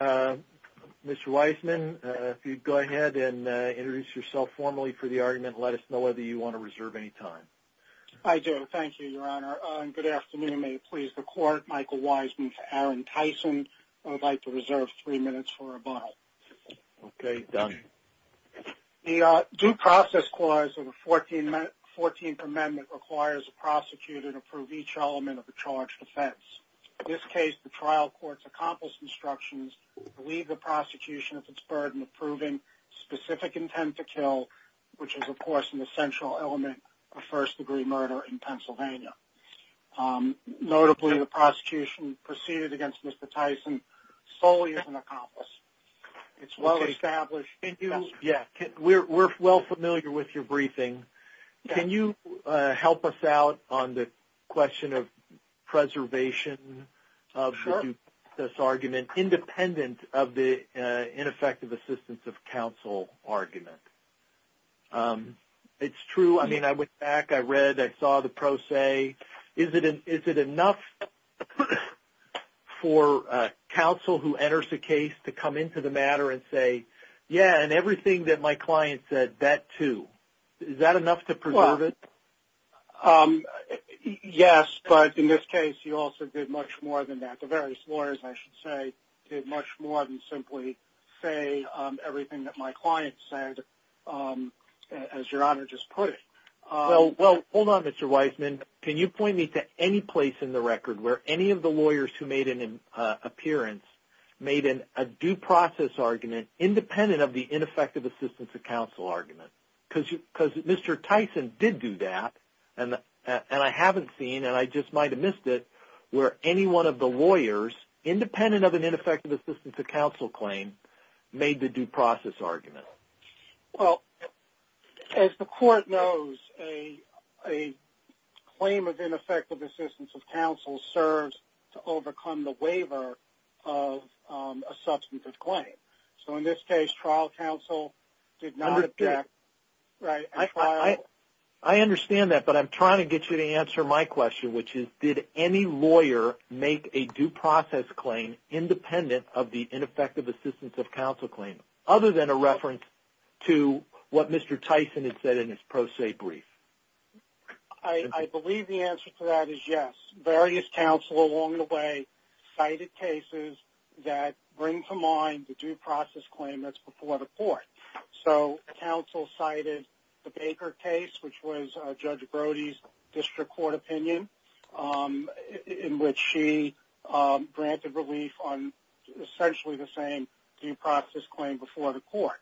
Mr. Wiseman, if you'd go ahead and introduce yourself formally for the argument and let us know whether you want to reserve any time. I do. Thank you, Your Honor. And good afternoon. May it please the Court, Michael Wiseman for Aaron Tyson. I would like to reserve three minutes for rebuttal. Okay. Done. The due process clause of the 14th Amendment requires the prosecutor to approve each element of the charged offense. In this case, the trial court's accomplice instructions leave the prosecution with its burden of proving specific intent to kill, which is, of course, an essential element of first-degree murder in Pennsylvania. Notably, the prosecution proceeded against Mr. Tyson solely as an accomplice. It's well-established. We're well familiar with your briefing. Can you help us out on the question of preservation of the due process argument, independent of the ineffective assistance of counsel argument? It's true. I mean, I went back, I read, I saw the pro se. Is it enough for counsel who enters a case to come into the matter and say, yeah, and everything that my client said, that too. Is that enough to preserve it? Yes, but in this case, you also did much more than that. The various lawyers, I should say, did much more than simply say everything that my client said, as Your Honor just put it. Well, hold on, Mr. Wiseman. Can you point me to any place in the record where any of the lawyers who made an appearance made a due process argument, independent of the ineffective assistance of counsel argument? Because Mr. Tyson did do that, and I haven't seen, and I just might have missed it, where any one of the lawyers, independent of an ineffective assistance of counsel claim, made the due process argument. Well, as the court knows, a claim of ineffective assistance of counsel serves to overcome the waiver of a substantive claim. So in this case, trial counsel did not object. I understand that, but I'm trying to get you to answer my question, which is, did any lawyer make a due process claim independent of the ineffective assistance of counsel claim, other than a reference to what Mr. Tyson had said in his pro se brief? I believe the answer to that is yes. Various counsel along the way cited cases that bring to mind the due process claim that's before the court. So counsel cited the Baker case, which was Judge Brody's district court opinion, in which she granted relief on essentially the same due process claim before the court.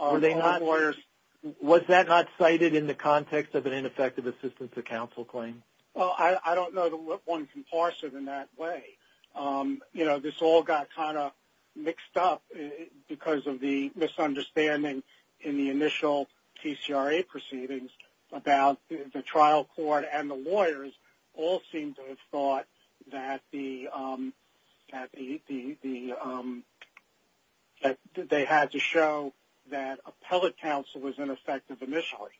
Was that not cited in the context of an ineffective assistance of counsel claim? Well, I don't know that one can parse it in that way. You know, this all got kind of mixed up because of the misunderstanding in the initial TCRA proceedings about the trial court and the lawyers all seemed to have thought that they had to show that appellate counsel was ineffective initially.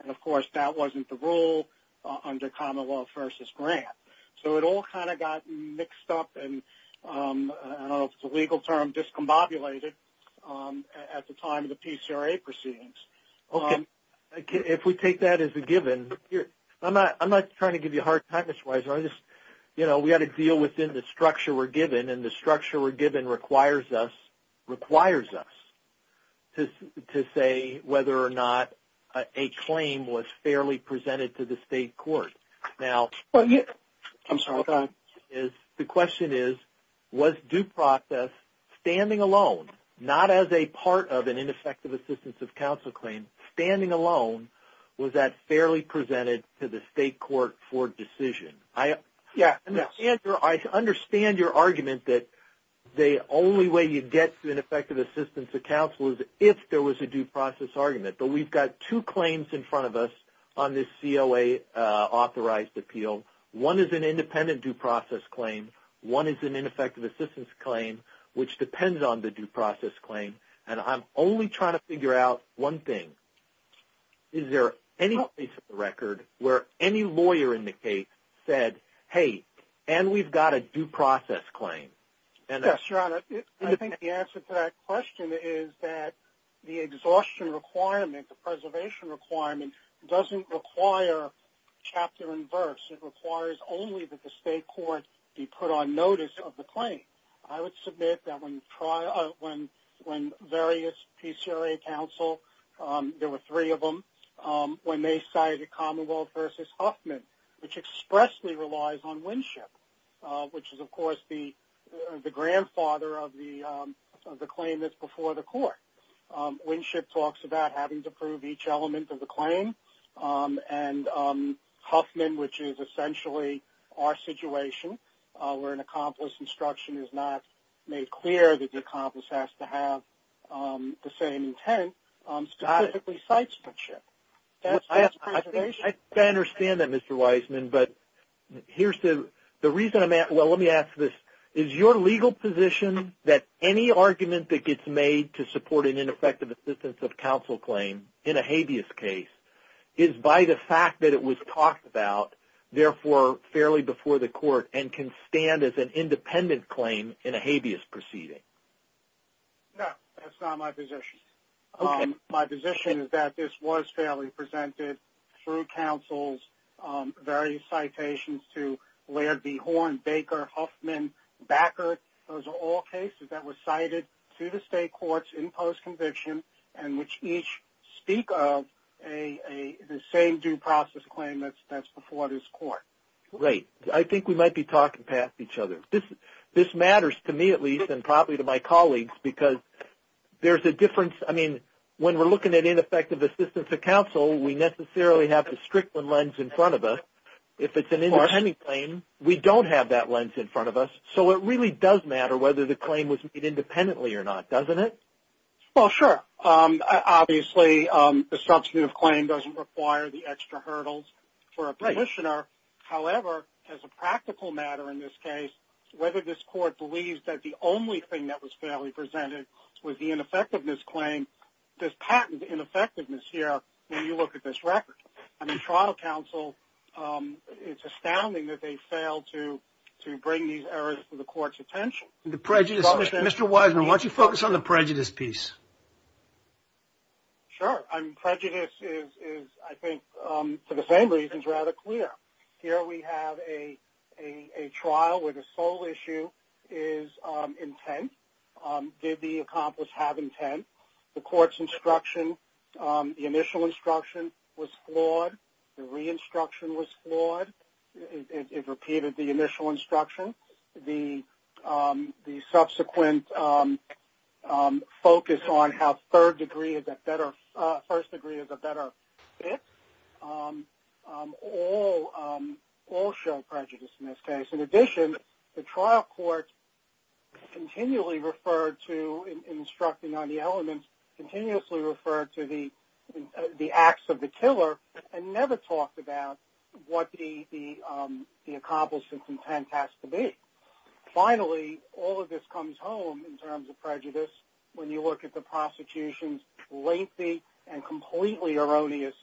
And, of course, that wasn't the rule under common law versus grant. So it all kind of got mixed up and, I don't know if it's a legal term, discombobulated at the time of the TCRA proceedings. If we take that as a given, I'm not trying to give you a hard time, Mr. Weiser. We've got to deal within the structure we're given, and the structure we're given requires us to say whether or not a claim was fairly presented to the state court. I'm sorry, go ahead. The question is, was due process standing alone, not as a part of an ineffective assistance of counsel claim, standing alone, was that fairly presented to the state court for decision? Yes. I understand your argument that the only way you get to ineffective assistance of counsel is if there was a due process argument. But we've got two claims in front of us on this COA authorized appeal. One is an independent due process claim. One is an ineffective assistance claim, which depends on the due process claim. And I'm only trying to figure out one thing. Is there any place on the record where any lawyer in the case said, hey, and we've got a due process claim? Yes, Your Honor. I think the answer to that question is that the exhaustion requirement, the preservation requirement, doesn't require chapter and verse. It requires only that the state court be put on notice of the claim. I would submit that when various PCRA counsel, there were three of them, when they cited Commonwealth v. Huffman, which expressly relies on Winship, which is, of course, the grandfather of the claim that's before the court. Winship talks about having to prove each element of the claim, and Huffman, which is essentially our situation where an accomplice instruction is not made clear that the accomplice has to have the same intent, specifically cites Winship. I understand that, Mr. Wiseman, but here's the reason I'm asking. Well, let me ask this. Is your legal position that any argument that gets made to support an ineffective assistance of counsel claim in a habeas case is by the fact that it was talked about, therefore fairly before the court, and can stand as an independent claim in a habeas proceeding? No, that's not my position. My position is that this was fairly presented through counsel's various citations to Laird v. Horn, Baker, Huffman, Backert. Those are all cases that were cited to the state courts in post-conviction and which each speak of the same due process claim that's before this court. Great. I think we might be talking past each other. This matters to me, at least, and probably to my colleagues because there's a difference. I mean, when we're looking at ineffective assistance of counsel, we necessarily have the Strickland lens in front of us. If it's an independent claim, we don't have that lens in front of us. So it really does matter whether the claim was made independently or not, doesn't it? Well, sure. Obviously, a substantive claim doesn't require the extra hurdles for a practitioner. However, as a practical matter in this case, whether this court believes that the only thing that was fairly presented was the ineffectiveness claim, there's patent ineffectiveness here when you look at this record. I mean, trial counsel, it's astounding that they failed to bring these errors to the court's attention. Mr. Wiseman, why don't you focus on the prejudice piece? Sure. Prejudice is, I think, for the same reasons, rather clear. Here we have a trial where the sole issue is intent. Did the accomplice have intent? The court's instruction, the initial instruction was flawed. The re-instruction was flawed. It repeated the initial instruction. The subsequent focus on how first degree is a better fit all show prejudice in this case. In addition, the trial court continually referred to, in instructing on the elements, continuously referred to the acts of the killer and never talked about what the accomplice's intent has to be. Finally, all of this comes home in terms of prejudice when you look at the prosecution's lengthy and completely erroneous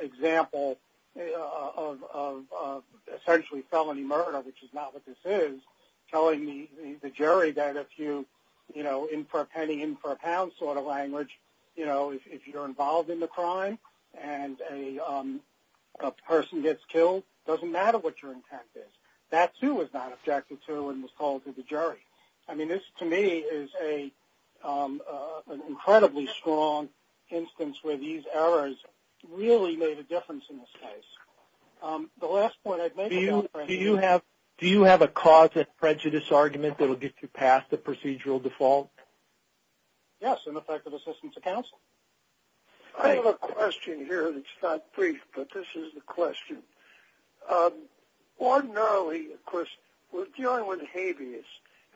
example of essentially felony murder, which is not what this is, telling the jury that if you, you know, in for a penny, in for a pound sort of language, you know, if you're involved in the crime and a person gets killed, it doesn't matter what your intent is. That, too, was not objected to and was called to the jury. I mean, this, to me, is an incredibly strong instance where these errors really made a difference in this case. The last point I'd make... Do you have a cause of prejudice argument that will get you past the procedural default? Yes, in effect, with assistance of counsel. I have a question here that's not brief, but this is the question. Ordinarily, of course, we're dealing with habeas,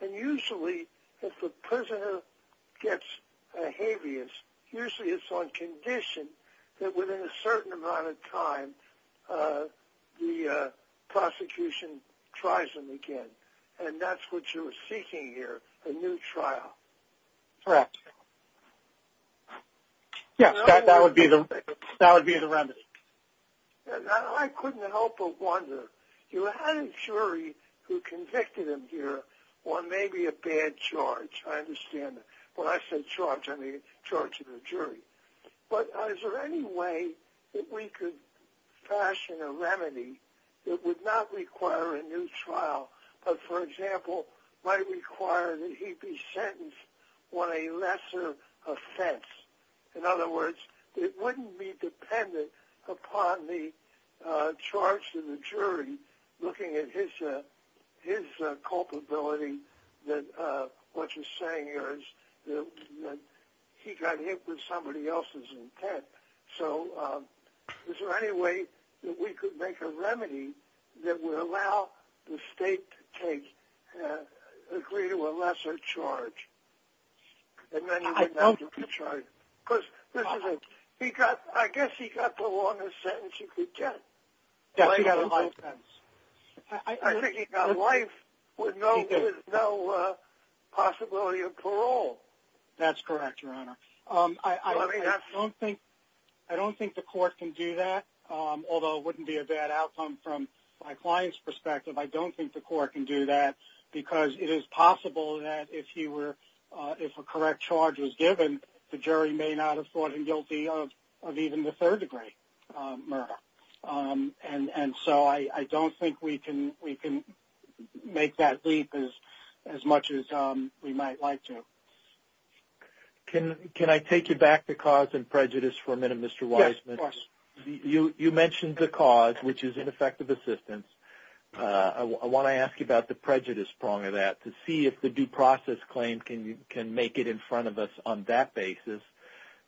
and usually if a prisoner gets a habeas, usually it's on condition that within a certain amount of time the prosecution tries him again, and that's what you're seeking here, a new trial. Correct. Yes, that would be the remedy. I couldn't help but wonder. You had a jury who convicted him here on maybe a bad charge. I understand that. When I say charge, I mean charge to the jury. But is there any way that we could fashion a remedy that would not require a new trial, but, for example, might require that he be sentenced on a lesser offense? In other words, it wouldn't be dependent upon the charge to the jury looking at his culpability, that what you're saying here is that he got hit with somebody else's intent. So is there any way that we could make a remedy that would allow the state to agree to a lesser charge? I don't think so. Because I guess he got the longest sentence he could get. Yes, he got a life sentence. I think he got a life with no possibility of parole. That's correct, Your Honor. I don't think the court can do that, although it wouldn't be a bad outcome from my client's perspective. I don't think the court can do that because it is possible that if a correct charge was given, the jury may not have thought him guilty of even the third-degree murder. And so I don't think we can make that leap as much as we might like to. Can I take you back to cause and prejudice for a minute, Mr. Wiseman? Yes, of course. You mentioned the cause, which is ineffective assistance. I want to ask you about the prejudice prong of that to see if the due process claim can make it in front of us on that basis.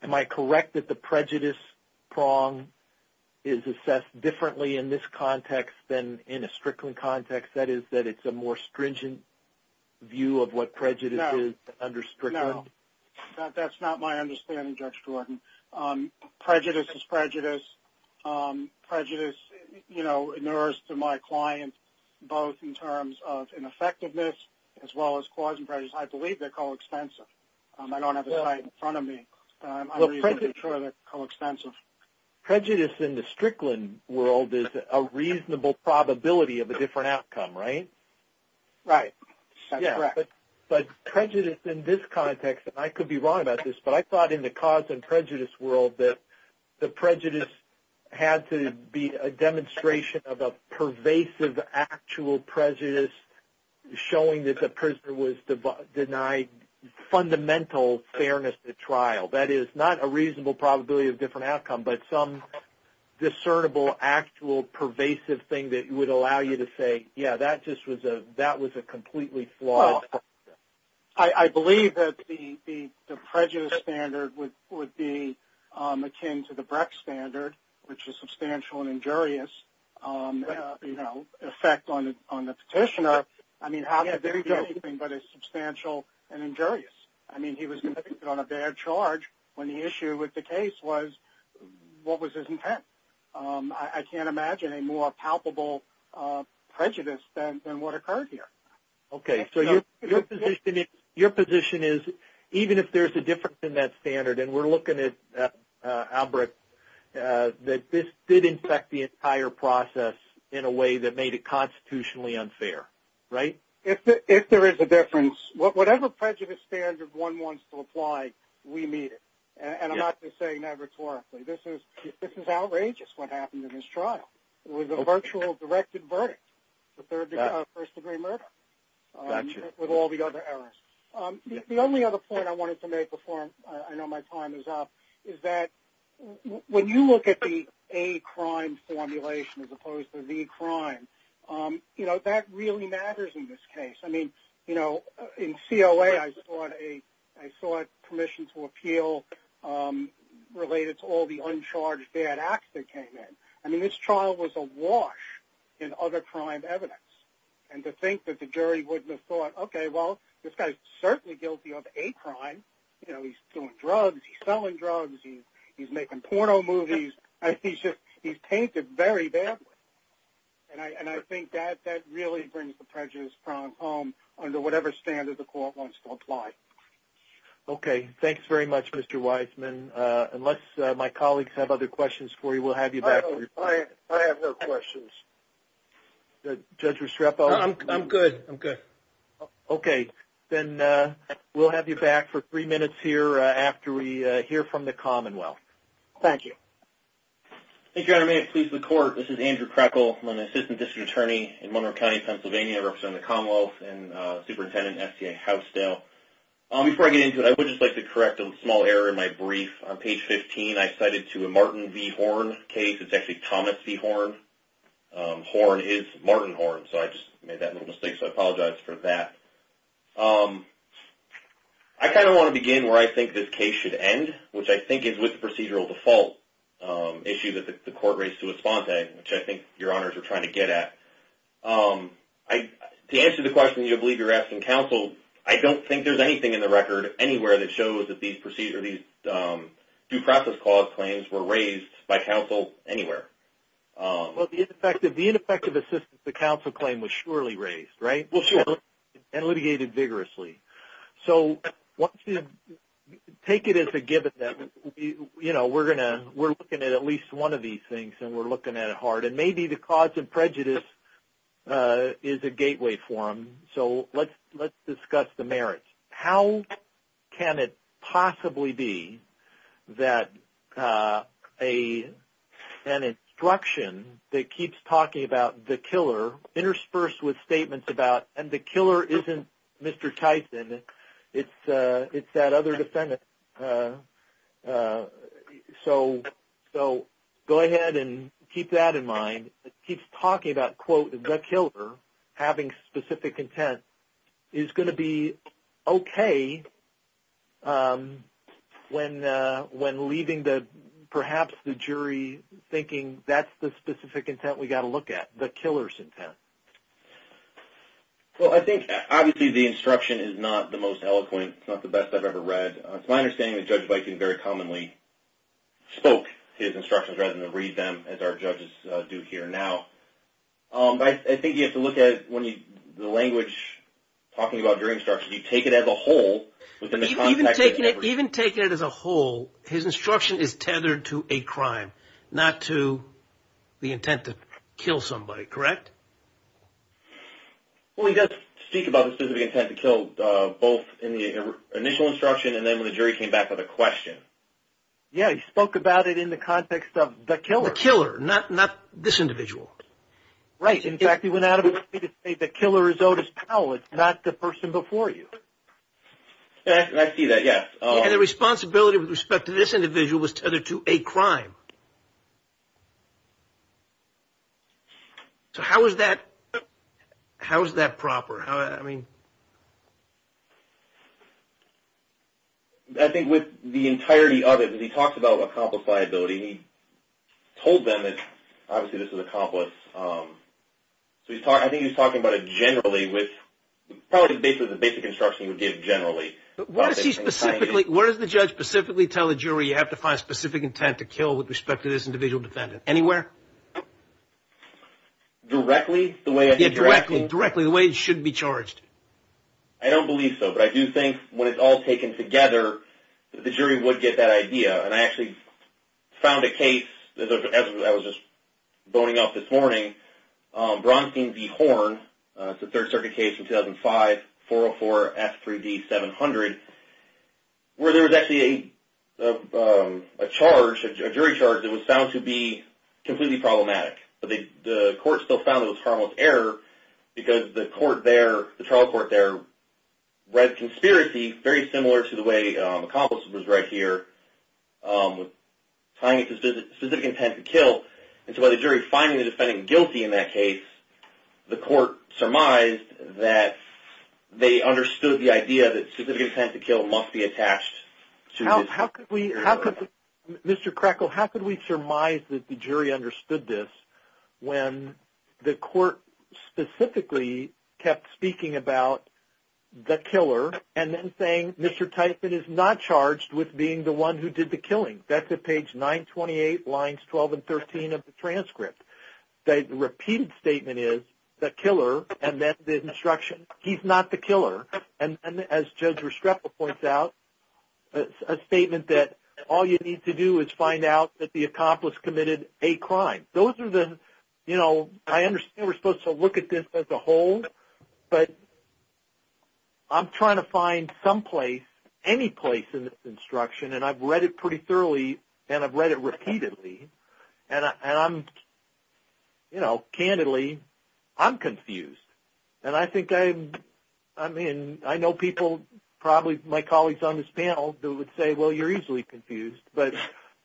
Am I correct that the prejudice prong is assessed differently in this context than in a Strickland context, that is that it's a more stringent view of what prejudice is under Strickland? No, that's not my understanding, Judge Gordon. Prejudice is prejudice. Prejudice, you know, inures to my client both in terms of ineffectiveness as well as cause and prejudice. I believe they're co-extensive. I don't have the site in front of me. I'm not even sure they're co-extensive. Prejudice in the Strickland world is a reasonable probability of a different outcome, right? Right. That's correct. But prejudice in this context, and I could be wrong about this, but I thought in the cause and prejudice world that the prejudice had to be a demonstration of a pervasive, actual prejudice showing that the prisoner was denied fundamental fairness at trial. That is not a reasonable probability of a different outcome, but some discernible actual pervasive thing that would allow you to say, yeah, that was a completely flawed process. I believe that the prejudice standard would be akin to the Brecht standard, which is substantial and injurious. You know, effect on the petitioner, I mean, how could there be anything but a substantial and injurious? I mean, he was convicted on a bad charge when the issue with the case was what was his intent. I can't imagine a more palpable prejudice than what occurred here. Okay. So your position is, even if there's a difference in that standard, and we're looking at Albrecht, that this did infect the entire process in a way that made it constitutionally unfair, right? If there is a difference, whatever prejudice standard one wants to apply, we meet it. And I'm not just saying that rhetorically. This is outrageous what happened in this trial. It was a virtual directed verdict, a first-degree murder with all the other errors. The only other point I wanted to make before I know my time is up is that when you look at the A crime formulation as opposed to the crime, you know, that really matters in this case. I mean, you know, in COA I sought permission to appeal related to all the uncharged bad acts that came in. I mean, this trial was awash in other crime evidence. And to think that the jury wouldn't have thought, okay, well, this guy's certainly guilty of A crime. You know, he's doing drugs. He's selling drugs. He's making porno movies. He's painted very badly. And I think that really brings the prejudice problem home under whatever standard the court wants to apply. Okay. Thanks very much, Mr. Wiseman. Unless my colleagues have other questions for you, we'll have you back. I have no questions. Judge Restrepo? I'm good. I'm good. Okay. Then we'll have you back for three minutes here after we hear from the Commonwealth. Thank you. Thank you, Your Honor. May it please the Court, this is Andrew Krekel. I'm an assistant district attorney in Monroe County, Pennsylvania. I represent the Commonwealth and Superintendent SCA Housedale. Before I get into it, I would just like to correct a small error in my brief. On page 15, I cited to a Martin v. Horne case. It's actually Thomas v. Horne. Horne is Martin Horne, so I just made that little mistake, so I apologize for that. I kind of want to begin where I think this case should end, which I think is with the procedural default issue that the court raised to a sponte, which I think Your Honors are trying to get at. To answer the question you believe you're asking counsel, I don't think there's anything in the record, anywhere, that shows that these due process cause claims were raised by counsel anywhere. Well, the ineffective assistance to counsel claim was surely raised, right? Well, sure. And litigated vigorously. So take it as a given that we're looking at at least one of these things, and we're looking at it hard. And maybe the cause of prejudice is a gateway for them, so let's discuss the merits. How can it possibly be that an instruction that keeps talking about the killer, interspersed with statements about, and the killer isn't Mr. Tyson, it's that other defendant. So go ahead and keep that in mind. The instruction that keeps talking about, quote, the killer, having specific intent, is going to be okay when leaving perhaps the jury thinking that's the specific intent we've got to look at, the killer's intent. Well, I think obviously the instruction is not the most eloquent. It's not the best I've ever read. It's my understanding that Judge Bikin very commonly spoke his instructions rather than read them, as our judges do here now. I think you have to look at when the language, talking about jury instructions, you take it as a whole. Even taking it as a whole, his instruction is tethered to a crime, not to the intent to kill somebody, correct? Well, he does speak about the specific intent to kill both in the initial instruction and then when the jury came back with a question. Yeah, he spoke about it in the context of the killer. The killer, not this individual. Right. In fact, he went out of his way to say the killer is Otis Powell, it's not the person before you. I see that, yes. And the responsibility with respect to this individual was tethered to a crime. So how is that proper? I think with the entirety of it, he talks about accomplifiability. He told them that obviously this is accomplice. So I think he's talking about it generally with probably the basic instruction you would give generally. Where does the judge specifically tell the jury you have to find specific intent to kill with respect to this individual defendant? Anywhere? Directly? Yeah, directly. The way it should be charged. I don't believe so, but I do think when it's all taken together, the jury would get that idea. And I actually found a case, as I was just boning up this morning, Bronstein v. Horn. It's a Third Circuit case from 2005, 404 F3D 700, where there was actually a charge, a jury charge, that was found to be completely problematic. But the court still found it was harmless error because the trial court there read conspiracy very similar to the way accomplice was read here. With tying it to specific intent to kill. And so by the jury finding the defendant guilty in that case, the court surmised that they understood the idea that specific intent to kill must be attached to this individual. Mr. Krekel, how could we surmise that the jury understood this when the court specifically kept speaking about the killer and then saying, Mr. Typhon is not charged with being the one who did the killing? That's at page 928, lines 12 and 13 of the transcript. The repeated statement is, the killer, and that's the instruction, he's not the killer. And as Judge Restrepo points out, a statement that all you need to do is find out that the accomplice committed a crime. Those are the, you know, I understand we're supposed to look at this as a whole, but I'm trying to find some place where we can say, any place in this instruction, and I've read it pretty thoroughly, and I've read it repeatedly. And I'm, you know, candidly, I'm confused. And I think I'm, I mean, I know people, probably my colleagues on this panel that would say, well, you're easily confused. But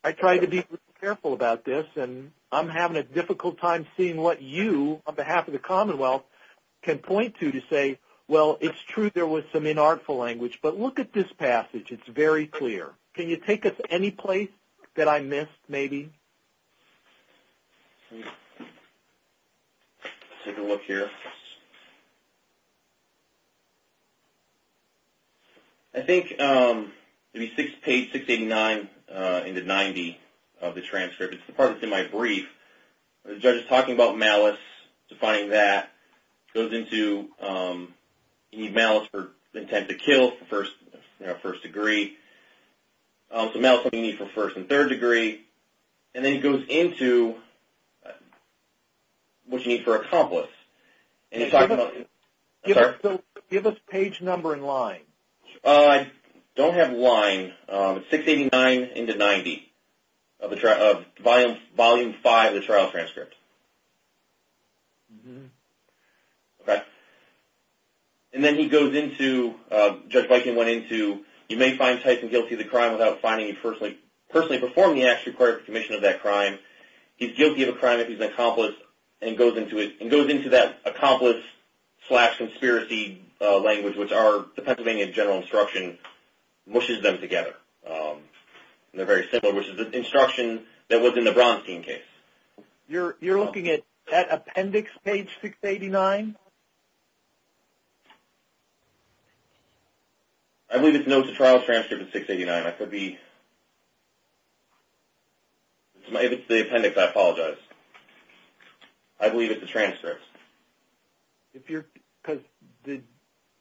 I try to be careful about this, and I'm having a difficult time seeing what you, on behalf of the Commonwealth, can point to to say, well, it's true there was some inartful language, but look at this passage, it's very clear. Can you take us any place that I missed, maybe? Let's take a look here. I think, maybe page 689 into 90 of the transcript, it's the part that's in my brief. The judge is talking about malice, defining that. It goes into, you need malice for intent to kill, first degree. So, malice is what you need for first and third degree. And then it goes into what you need for accomplice. I'm sorry? Give us page number and line. I don't have line. It's 689 into 90 of volume 5 of the trial transcript. Okay. And then he goes into, Judge Viking went into, you may find Tyson guilty of the crime without finding he personally performed the act required for commission of that crime. He's guilty of a crime if he's an accomplice and goes into that accomplice slash conspiracy language, which the Pennsylvania general instruction mushes them together. They're very similar, which is the instruction that was in the Bronstein case. You're looking at appendix page 689? I believe it's notes of trial transcript of 689. If it's the appendix, I apologize. I believe it's the transcripts.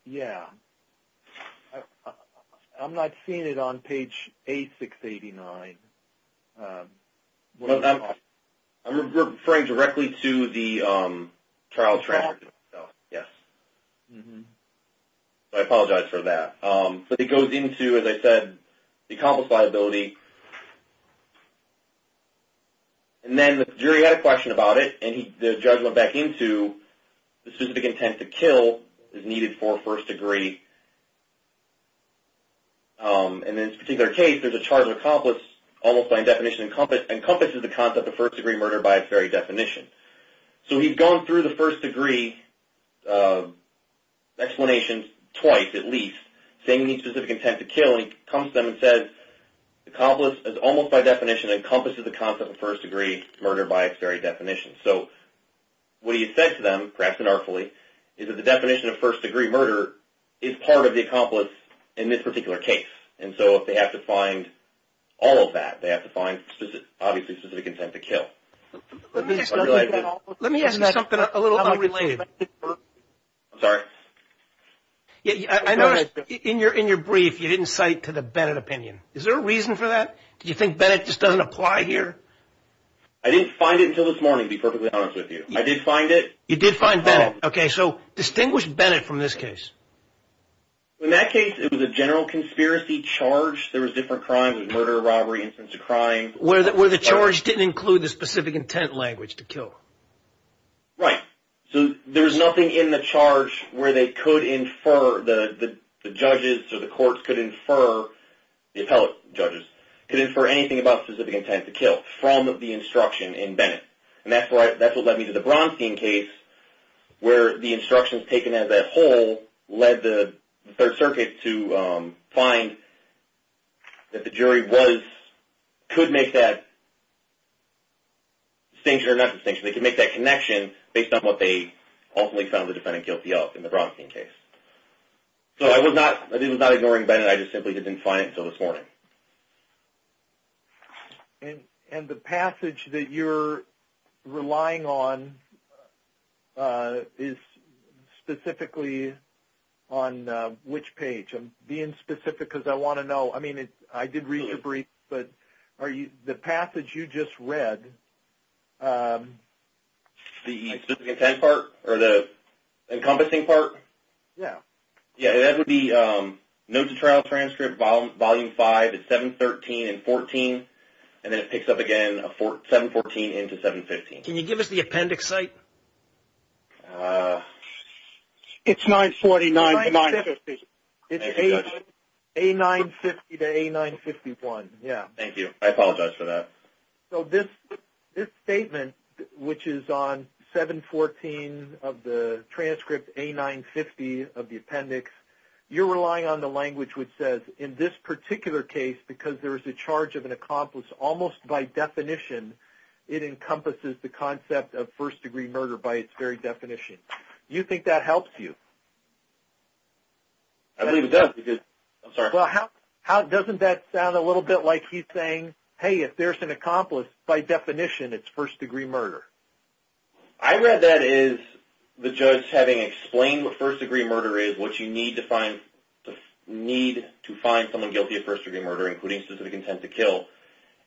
Yeah. I'm not seeing it on page A689. I'm referring directly to the trial transcript. Yes. I apologize for that. But it goes into, as I said, the accomplice liability. And then the jury had a question about it, and the judge went back into the specific intent to kill is needed for first degree. And in this particular case, there's a charge of accomplice, almost by definition, encompasses the concept of first degree murder by its very definition. So he's gone through the first degree explanations twice at least, saying he needs specific intent to kill, and he comes to them and says, accomplice is almost by definition encompasses the concept of first degree murder by its very definition. So what he has said to them, perhaps unartfully, is that the definition of first degree murder is part of the accomplice in this particular case. And so if they have to find all of that, they have to find, obviously, specific intent to kill. Let me ask you something a little unrelated. I'm sorry? I noticed in your brief, you didn't cite to the Bennett opinion. Is there a reason for that? Do you think Bennett just doesn't apply here? I didn't find it until this morning, to be perfectly honest with you. I did find it. You did find Bennett. Okay, so distinguish Bennett from this case. In that case, it was a general conspiracy charge. There was different crimes, murder, robbery, instance of crime. Where the charge didn't include the specific intent language to kill. Right. So there was nothing in the charge where they could infer, the judges or the courts could infer, the appellate judges, could infer anything about specific intent to kill from the instruction in Bennett. And that's what led me to the Bronstein case, where the instructions taken as a whole, led the Third Circuit to find, that the jury was, could make that distinction, or not distinction, they could make that connection, based on what they ultimately found the defendant guilty of in the Bronstein case. So I was not, I was not ignoring Bennett. I just simply didn't find it until this morning. Okay. And the passage that you're relying on, is specifically on which page? I'm being specific because I want to know. I mean, I did read the brief, but the passage you just read. The specific intent part? Or the encompassing part? Yeah. Yeah, that would be, Note to Trial Transcript Volume 5, it's 713 and 14, and then it picks up again, 714 into 715. Can you give us the appendix site? It's 949 to 950. It's A950 to A951. Thank you. I apologize for that. So this statement, which is on 714, of the transcript A950 of the appendix, you're relying on the language which says, in this particular case, because there is a charge of an accomplice, almost by definition, it encompasses the concept of first degree murder by its very definition. Do you think that helps you? I believe it does. Doesn't that sound a little bit like he's saying, hey, if there's an accomplice, by definition it's first degree murder? I read that as the judge having explained what first degree murder is, what you need to find someone guilty of first degree murder, including specific intent to kill.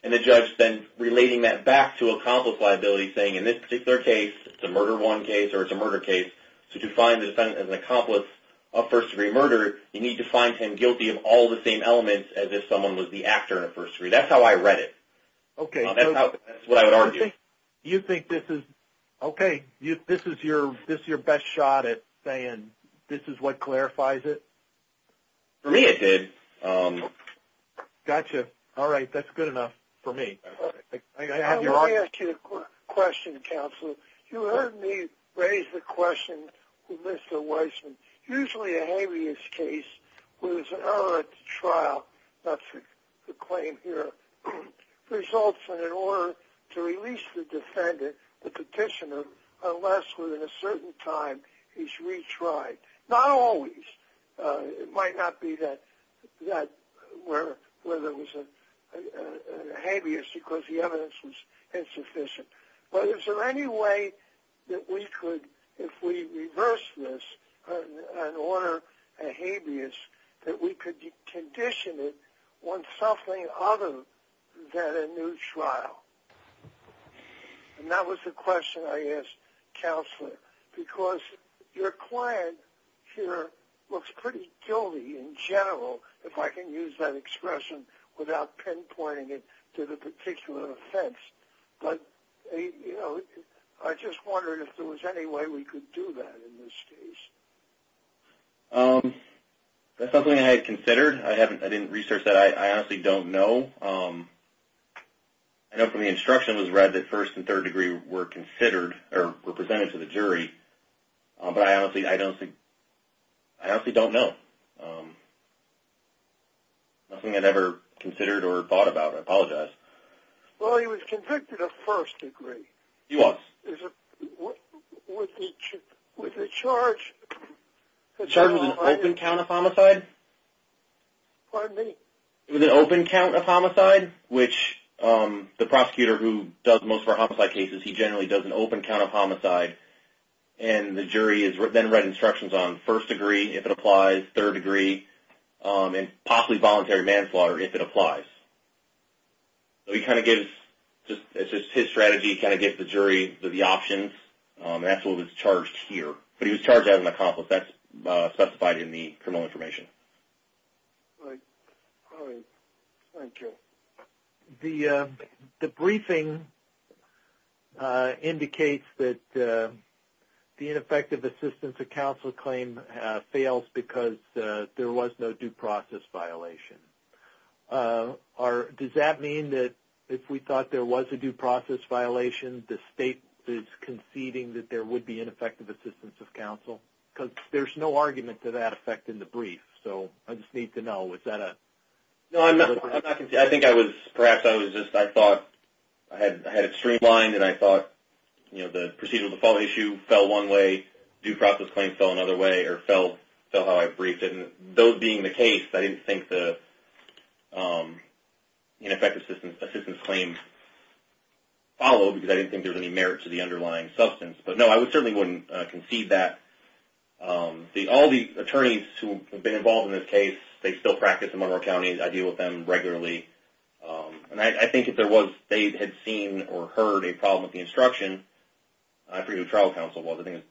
And the judge then relating that back to accomplice liability, saying in this particular case, it's a murder one case or it's a murder case, so to find an accomplice of first degree murder, you need to find him guilty of all the same elements as if someone was the actor in a first degree. That's how I read it. That's what I would argue. Okay. This is your best shot at saying, this is what clarifies it? For me it did. Gotcha. All right. That's good enough for me. Let me ask you a question, counsel. You heard me raise the question with Mr. Weissman. Usually a habeas case where there's an error at the trial, that's the claim here, results in an order to release the defendant, the petitioner, unless within a certain time he's retried. Not always. It might not be that where there was a habeas because the evidence was insufficient. But is there any way that we could, if we reverse this and order a habeas, that we could condition it on something other than a new trial? And that was the question I asked counselor. Because your client here looks pretty guilty in general, if I can use that expression, without pinpointing it to the particular offense. But I just wondered if there was any way we could do that in this case. That's not something I had considered. I didn't research that. I honestly don't know. I know from the instruction that was read that first and third degree were considered, or were presented to the jury. But I honestly don't know. Nothing I've ever considered or thought about. I apologize. Well, he was convicted of first degree. He was. With a charge. The charge was an open count of homicide. Pardon me? It was an open count of homicide, which the prosecutor who does most of our homicide cases, he generally does an open count of homicide. And the jury is then read instructions on first degree, if it applies, third degree, and possibly voluntary manslaughter, if it applies. So he kind of gives, as his strategy, he kind of gives the jury the options. And that's what was charged here. But he was charged as an accomplice. That's specified in the criminal information. Thank you. The briefing indicates that the ineffective assistance of counsel claim fails because there was no due process violation. Does that mean that if we thought there was a due process violation, the state is conceding that there would be ineffective assistance of counsel? Because there's no argument to that effect in the brief. So I just need to know. No, I'm not conceding. I think I was, perhaps I was just, I thought I had it streamlined and I thought the procedural default issue fell one way, due process claim fell another way, or fell how I briefed it. And those being the case, I didn't think the ineffective assistance claim followed because I didn't think there was any merit to the underlying substance. But no, I certainly wouldn't concede that. All the attorneys who have been involved in this case, they still practice in Monroe County. I deal with them regularly. And I think if there was, they had seen or heard a problem with the instruction, I forget who the trial counsel was, I think it was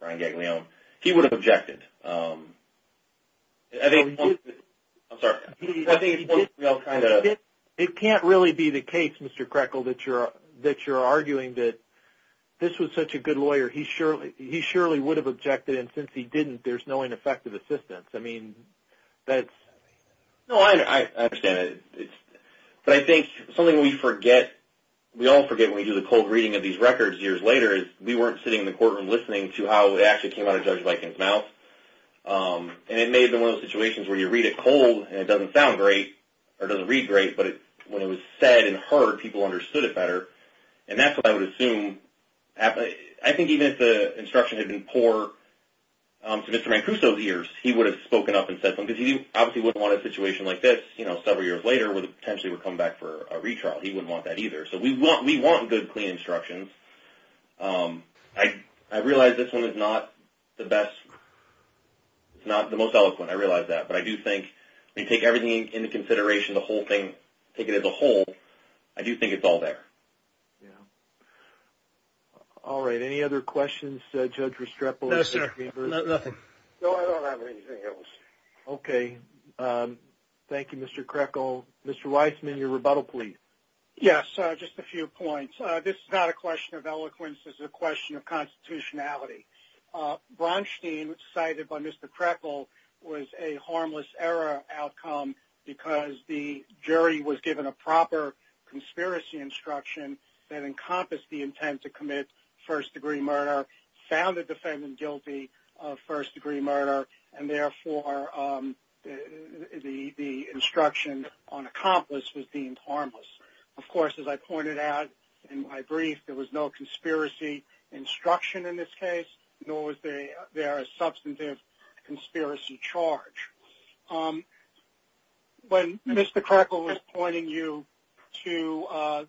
Brian Gaglione, he would have objected. I'm sorry. It can't really be the case, Mr. Krekel, that you're arguing that this was such a good lawyer, he surely would have objected and since he didn't, there's no ineffective assistance. I mean, that's... No, I understand it. But I think something we forget, we all forget when we do the cold reading of these records years later is we weren't sitting in the courtroom listening to how it actually came out of Judge Bikin's mouth. And it may have been one of those situations where you read it cold and it doesn't sound great, or it doesn't read great, but when it was said and heard, people understood it better. And that's what I would assume happened. I think even if the instruction had been poor to Mr. Mancuso's ears, he would have spoken up and said something. Because he obviously wouldn't want a situation like this, you know, several years later, where they potentially would come back for a retrial. He wouldn't want that either. So we want good, clean instructions. I realize this one is not the best... It's not the most eloquent. I realize that. But I do think, when you take everything into consideration, the whole thing, take it as a whole, I do think it's all there. Yeah. Alright. Any other questions, Judge Restrepo? No, sir. Nothing. No, I don't have anything else. Okay. Thank you, Mr. Krekel. Mr. Weissman, your rebuttal, please. Yes, just a few points. This is not a question of eloquence. This is a question of constitutionality. Bronstein, cited by Mr. Krekel, was a harmless error outcome because the jury was given a proper conspiracy instruction that encompassed the intent to commit first-degree murder, found the defendant guilty of first-degree murder, and therefore the instruction on accomplice was deemed harmless. Of course, as I pointed out in my brief, there was no conspiracy instruction in this case, nor was there a substantive conspiracy charge. When Mr. Krekel was pointing you to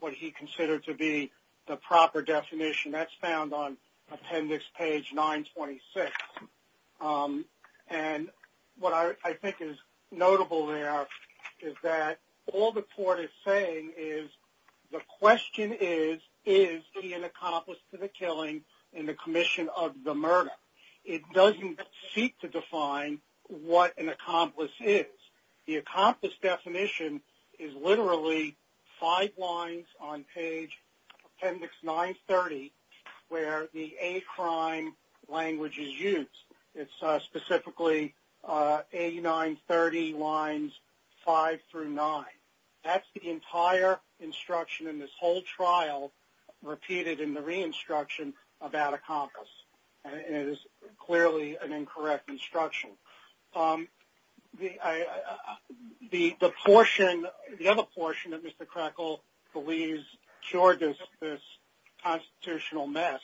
what he considered to be the proper accomplice, page 926, and what I think is notable there is that all the court is saying is the question is is he an accomplice to the killing in the commission of the murder? It doesn't seek to define what an accomplice is. The accomplice definition is literally five lines on page appendix 930 where the A-crime language is used. It's specifically A930 lines 5 through 9. That's the entire instruction in this whole trial repeated in the re-instruction about accomplice, and it is clearly an incorrect instruction. The other portion that Mr. Krekel believes cured this constitutional mess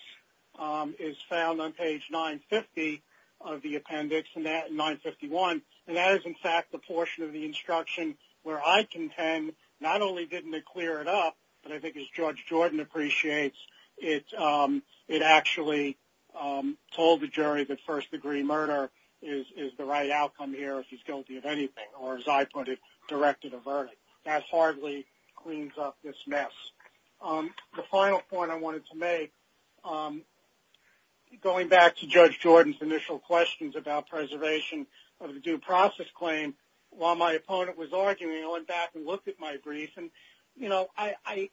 is found on page 950 of the appendix and that in 951, and that is in fact the portion of the instruction where I contend not only didn't it clear it up, but I think as Judge Jordan appreciates it actually told the jury that first degree murder is the right outcome here if he's guilty of anything, or as I put it, directed a verdict. That hardly cleans up this mess. The final point I wanted to make, going back to Judge Jordan's initial questions about preservation of the due process claim, while my opponent was arguing, I went back and looked at my brief and you know, I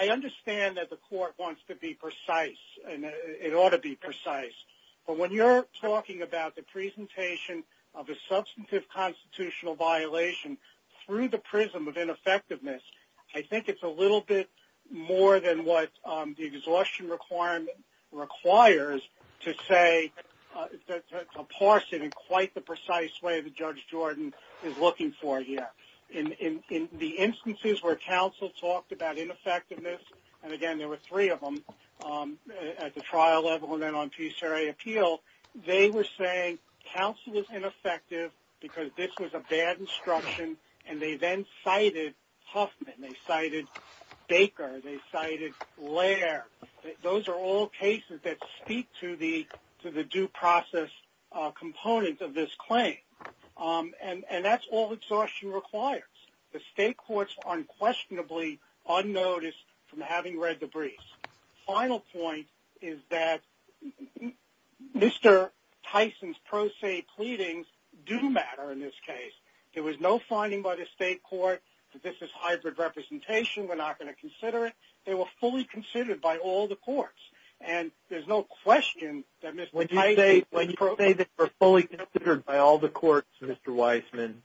understand that the court wants to be precise and it ought to be precise, but when you're talking about the constitutional violation through the prism of ineffectiveness, I think it's a little bit more than what the exhaustion requirement requires to say, to parse it in quite the precise way that Judge Jordan is looking for here. In the instances where counsel talked about ineffectiveness, and again there were three of them at the trial level and then on PCRA appeal, they were saying counsel was ineffective because this was a bad instruction and they then cited Huffman, they cited Baker, they cited Laird. Those are all cases that speak to the due process components of this claim. And that's all exhaustion requires. The state courts are unquestionably unnoticed from having read the briefs. Final point is that Mr. Tyson's pro se pleadings do matter in this case. There was no finding by the state court that this is hybrid representation, we're not going to consider it. They were fully considered by all the courts. And there's no question that Mr. Tyson... When you say they were fully considered by all the courts, Mr. Wiseman,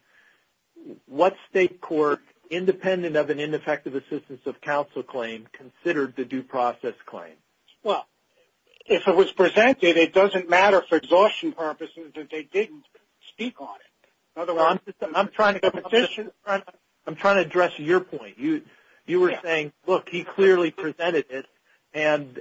what state court, independent of an ineffective assistance of counsel claim, considered the due process claim? Well, if it was presented, it doesn't matter for exhaustion purposes if they didn't speak on it. Otherwise... I'm trying to... I'm trying to address your point. You were saying, look, he clearly presented it and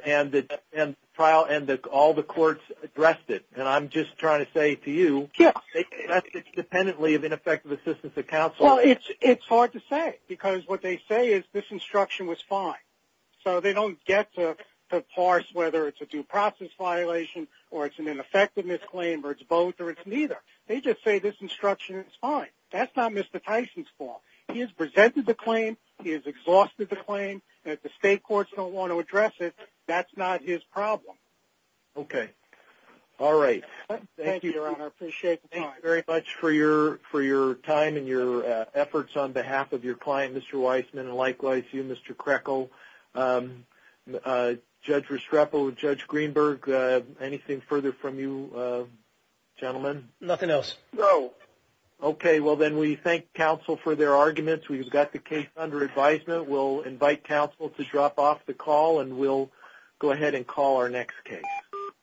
all the courts addressed it. And I'm just trying to say to you, they addressed it independently of ineffective assistance of counsel. Well, it's hard to say because what they say is this instruction was fine. So they don't get to parse whether it's a due process violation or it's an ineffectiveness claim or it's both or it's neither. They just say this instruction is fine. That's not Mr. Tyson's fault. He has presented the claim, he has exhausted the claim, and if the state courts don't want to address it, that's not his problem. Okay. All right. Thank you, Your Honor. I appreciate the time. Thank you very much for your time and your advice, you and Mr. Krekel. Judge Restrepo, Judge Greenberg, anything further from you, gentlemen? Nothing else. No. Okay. Well, then we thank counsel for their arguments. We've got the case under advisement. We'll invite counsel to drop off the call and we'll go ahead and call our next case.